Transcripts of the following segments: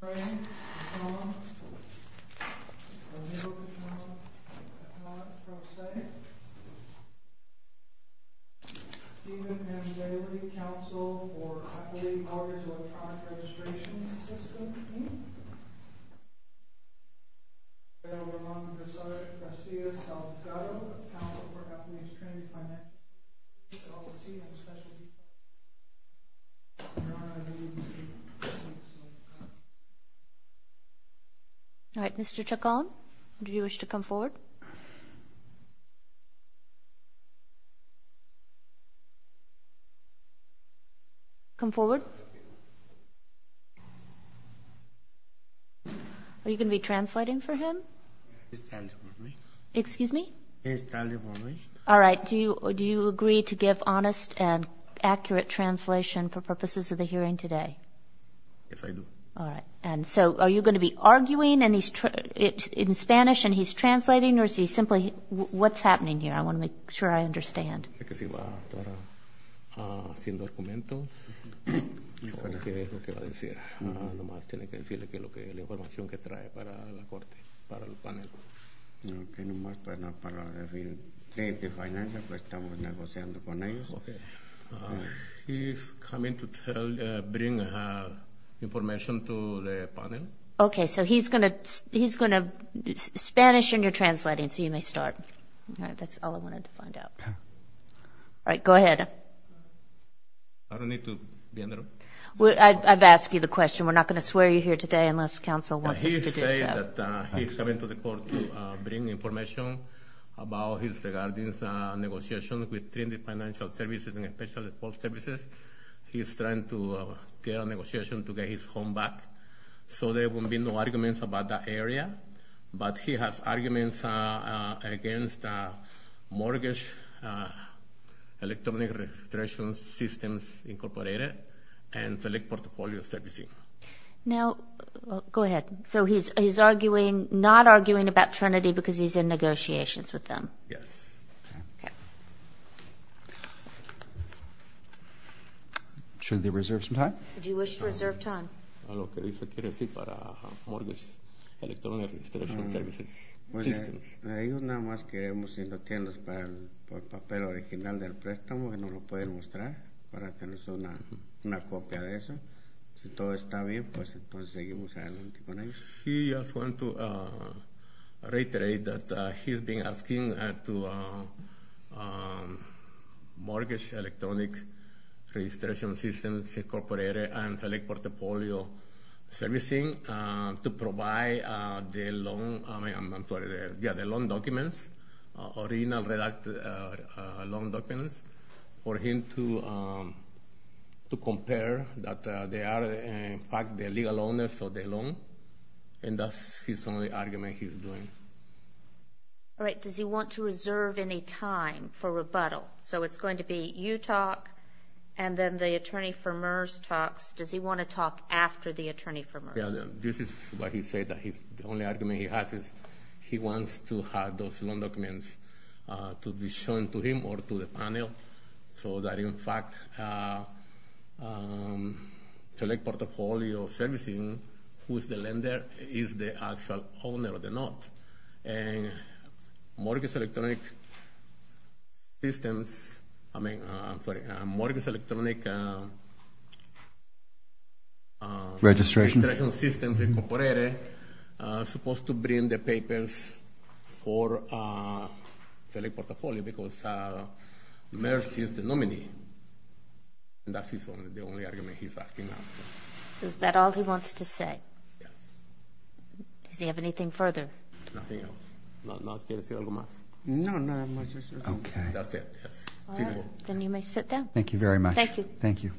Frank Chacon of the New York Council of Economic Pro-State Stephen M. Daley, Council for, I believe, Autonomous Electronic Registration System Team Eduardo Ramon Garcia Salgado, Council for Japanese-Canadian Finance All right, Mr. Chacon, do you wish to come forward? Come forward. Are you going to be translating for him? Excuse me? All right, do you agree to give honest and accurate translation for purposes of the hearing today? Yes, I do. All right. And so are you going to be arguing in Spanish and he's translating, or is he simply what's happening here? I want to make sure I understand. He's coming to bring information to the panel. Okay, so he's going to Spanish and you're translating, so you may start. All right, that's all I wanted to find out. All right, go ahead. I don't need to be in the room? I've asked you the question. We're not going to swear you here today unless Council wants us to do so. He said that he's coming to the court to bring information about his regarding negotiations with Trinidad Financial Services and Special Department Services. He's trying to get a negotiation to get his home back, so there will be no arguments about that area. But he has arguments against Mortgage Electronic Registration Systems Incorporated and Select Portfolio Services. Now, go ahead. So he's not arguing about Trinity because he's in negotiations with them? Yes. Okay. Should they reserve some time? Do you wish to reserve time? He just wants to reiterate that he's been asking to Mortgage Electronic Registration Systems Incorporated and Select Portfolio Services to provide the loan documents, original loan documents for him to compare that they are, in fact, the legal owners of the loan. And that's his only argument he's doing. All right, does he want to reserve any time for rebuttal? So it's going to be you talk, and then the attorney for MERS talks. Does he want to talk after the attorney for MERS? Yes, this is why he said that the only argument he has is he wants to have those loan documents to be shown to him or to the panel so that, in fact, Select Portfolio Services, who is the lender, is the actual owner of the note. And Mortgage Electronic Systems, I mean, I'm sorry, Mortgage Electronic Registration Systems Incorporated is supposed to bring the papers for Select Portfolio because MERS is the nominee. And that's the only argument he's asking now. So is that all he wants to say? Yes. Does he have anything further? Nothing else. No, not much. Okay. That's it. All right, then you may sit down. Thank you very much. Thank you. Thank you.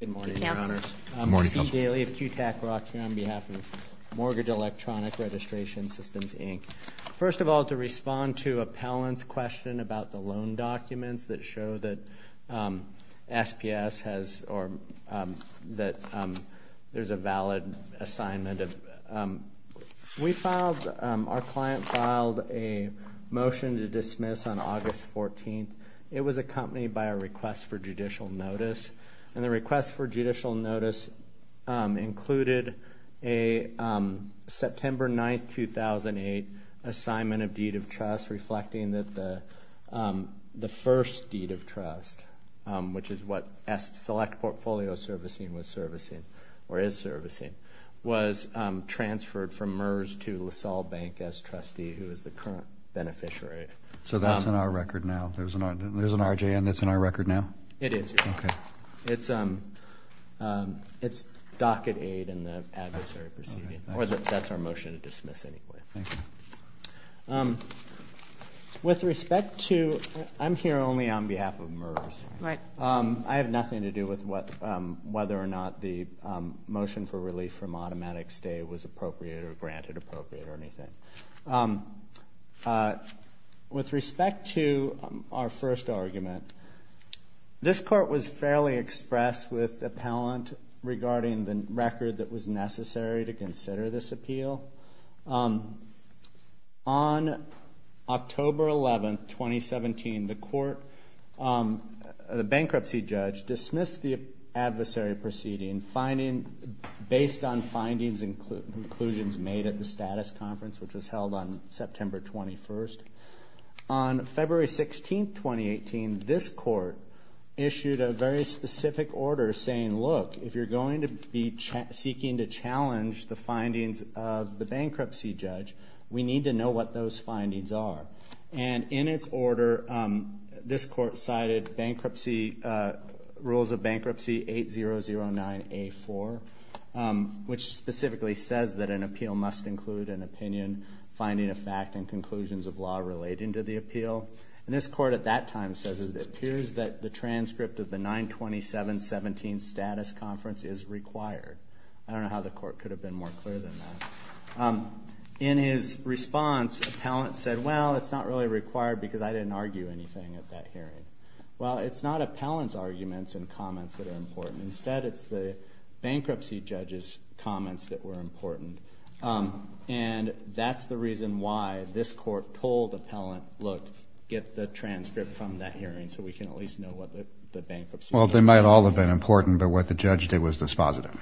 Good morning, Your Honors. Good morning, Counsel. I'm Steve Daly of QTAC Rock here on behalf of Mortgage Electronic Registration Systems, Inc. First of all, to respond to Appellant's question about the loan documents that show that SPS has or that there's a valid assignment. We filed, our client filed a motion to dismiss on August 14th. It was accompanied by a request for judicial notice. And the request for judicial notice included a September 9th, 2008 assignment of deed of trust reflecting that the first deed of trust, which is what S Select Portfolio Servicing was servicing or is servicing, was transferred from MERS to LaSalle Bank as trustee who is the current beneficiary. So that's in our record now? There's an RJN that's in our record now? It is. Okay. It's docket aid in the adversary proceeding, or that's our motion to dismiss anyway. Thank you. With respect to, I'm here only on behalf of MERS. Right. I have nothing to do with whether or not the motion for relief from automatic stay was appropriate or granted appropriate or anything. With respect to our first argument, this court was fairly expressed with appellant regarding the record that was necessary to consider this appeal. On October 11th, 2017, the court, the bankruptcy judge dismissed the adversary proceeding based on findings and conclusions made at the status conference, which was held on September 21st. On February 16th, 2018, this court issued a very specific order saying, look, if you're going to be seeking to challenge the findings of the bankruptcy judge, we need to know what those findings are. And in its order, this court cited bankruptcy, rules of bankruptcy 8009A4, which specifically says that an appeal must include an opinion, finding of fact, and conclusions of law relating to the appeal. And this court at that time says it appears that the transcript of the 927-17 status conference is required. I don't know how the court could have been more clear than that. In his response, appellant said, well, it's not really required because I didn't argue anything at that hearing. Well, it's not appellant's arguments and comments that are important. Instead, it's the bankruptcy judge's comments that were important. And that's the reason why this court told appellant, look, get the transcript from that hearing so we can at least know what the bankruptcy judge said. Well, they might all have been important, but what the judge did was dispositive.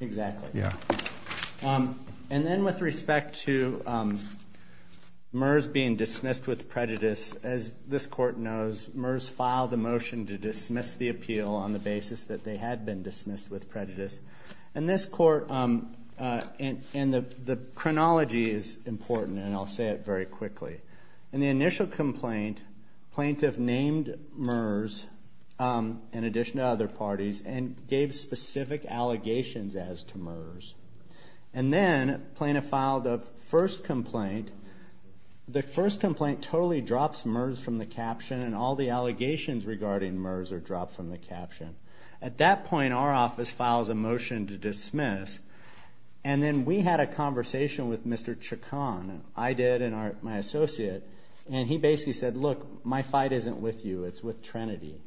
Exactly. Yeah. And then with respect to MERS being dismissed with prejudice, as this court knows, MERS filed a motion to dismiss the appeal on the basis that they had been dismissed with prejudice. And this court, and the chronology is important, and I'll say it very quickly. In the initial complaint, plaintiff named MERS in addition to other parties and gave specific allegations as to MERS. And then plaintiff filed the first complaint. The first complaint totally drops MERS from the caption, and all the allegations regarding MERS are dropped from the caption. At that point, our office files a motion to dismiss. And then we had a conversation with Mr. Chacon. I did and my associate. And he basically said, look, my fight isn't with you. It's with Trinity.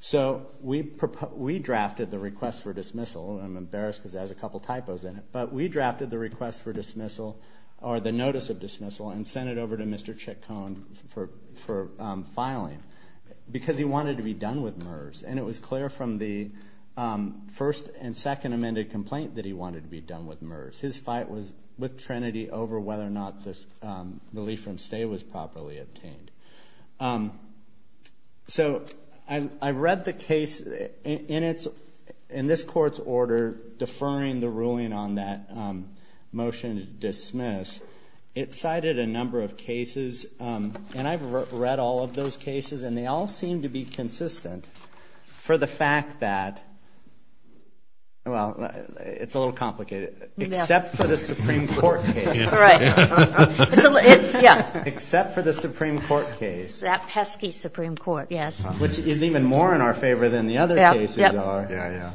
So we drafted the request for dismissal. I'm embarrassed because it has a couple typos in it. But we drafted the request for dismissal or the notice of dismissal and sent it over to Mr. Chacon for filing because he wanted to be done with MERS. And it was clear from the first and second amended complaint that he wanted to be done with MERS. His fight was with Trinity over whether or not the relief from stay was properly obtained. So I read the case in this court's order deferring the ruling on that motion to dismiss. It cited a number of cases, and I've read all of those cases, and they all seem to be consistent for the fact that, well, it's a little complicated. Except for the Supreme Court case. Except for the Supreme Court case. That pesky Supreme Court, yes. Which is even more in our favor than the other cases are.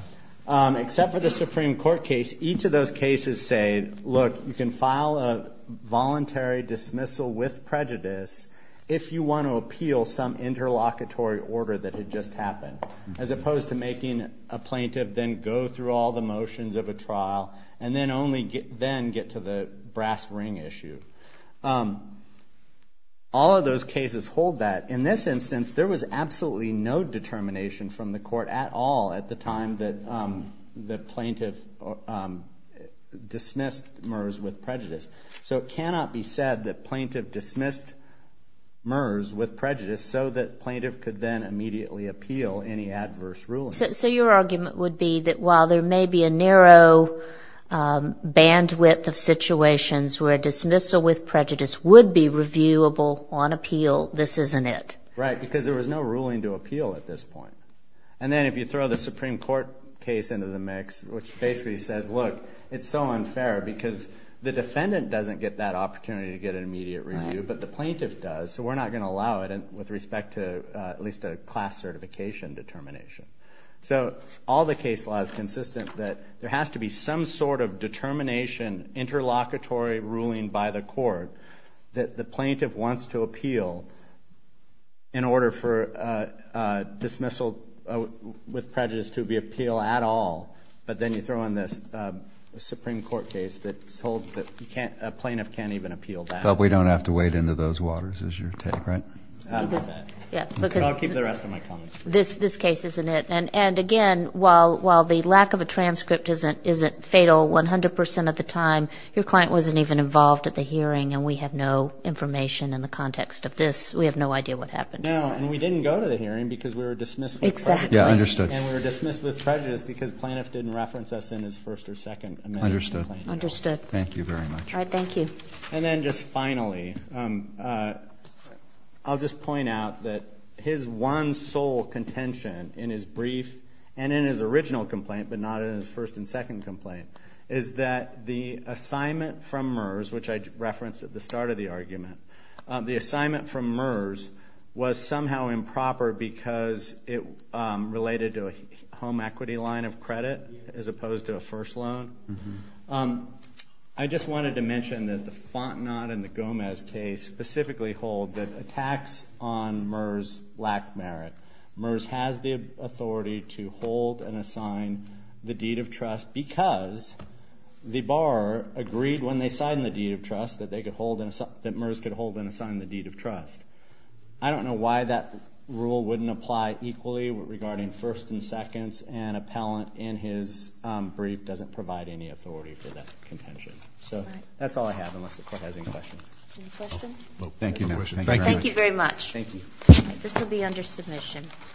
Except for the Supreme Court case, each of those cases say, look, you can file a voluntary dismissal with prejudice if you want to appeal some interlocutory order that had just happened. As opposed to making a plaintiff then go through all the motions of a trial and then only then get to the brass ring issue. All of those cases hold that. In this instance, there was absolutely no determination from the court at all at the time that the plaintiff dismissed MERS with prejudice. So it cannot be said that plaintiff dismissed MERS with prejudice so that plaintiff could then immediately appeal any adverse ruling. So your argument would be that while there may be a narrow bandwidth of situations where a dismissal with prejudice would be reviewable on appeal, this isn't it? Right. Because there was no ruling to appeal at this point. And then if you throw the Supreme Court case into the mix, which basically says, look, it's so unfair because the defendant doesn't get that opportunity to get an immediate review, but the plaintiff does. So we're not going to allow it with respect to at least a class certification determination. So all the case law is consistent that there has to be some sort of determination, interlocutory ruling by the court that the plaintiff wants to appeal in order for a dismissal with prejudice to be appealed at all. But then you throw in this Supreme Court case that holds that a plaintiff can't even appeal that. But we don't have to wade into those waters is your take, right? I'll keep the rest of my comments. This case isn't it. And, again, while the lack of a transcript isn't fatal 100 percent of the time, your client wasn't even involved at the hearing, and we have no information in the context of this. We have no idea what happened. No, and we didn't go to the hearing because we were dismissed with prejudice. Exactly. Yeah, understood. And we were dismissed with prejudice because plaintiff didn't reference us in his first or second amendment. Understood. Understood. Thank you very much. All right. Thank you. And then just finally, I'll just point out that his one sole contention in his brief and in his original complaint, but not in his first and second complaint, is that the assignment from MERS, which I referenced at the start of the argument, the assignment from MERS was somehow improper because it related to a home equity line of credit as opposed to a first loan. I just wanted to mention that the Fontenot and the Gomez case specifically hold that attacks on MERS lack merit. MERS has the authority to hold and assign the deed of trust because the borrower agreed when they signed the deed of trust that MERS could hold and assign the deed of trust. I don't know why that rule wouldn't apply equally regarding first and second, and appellant in his brief doesn't provide any authority for that contention. So that's all I have unless the court has any questions. Any questions? Thank you. Thank you very much. Thank you. This will be under submission.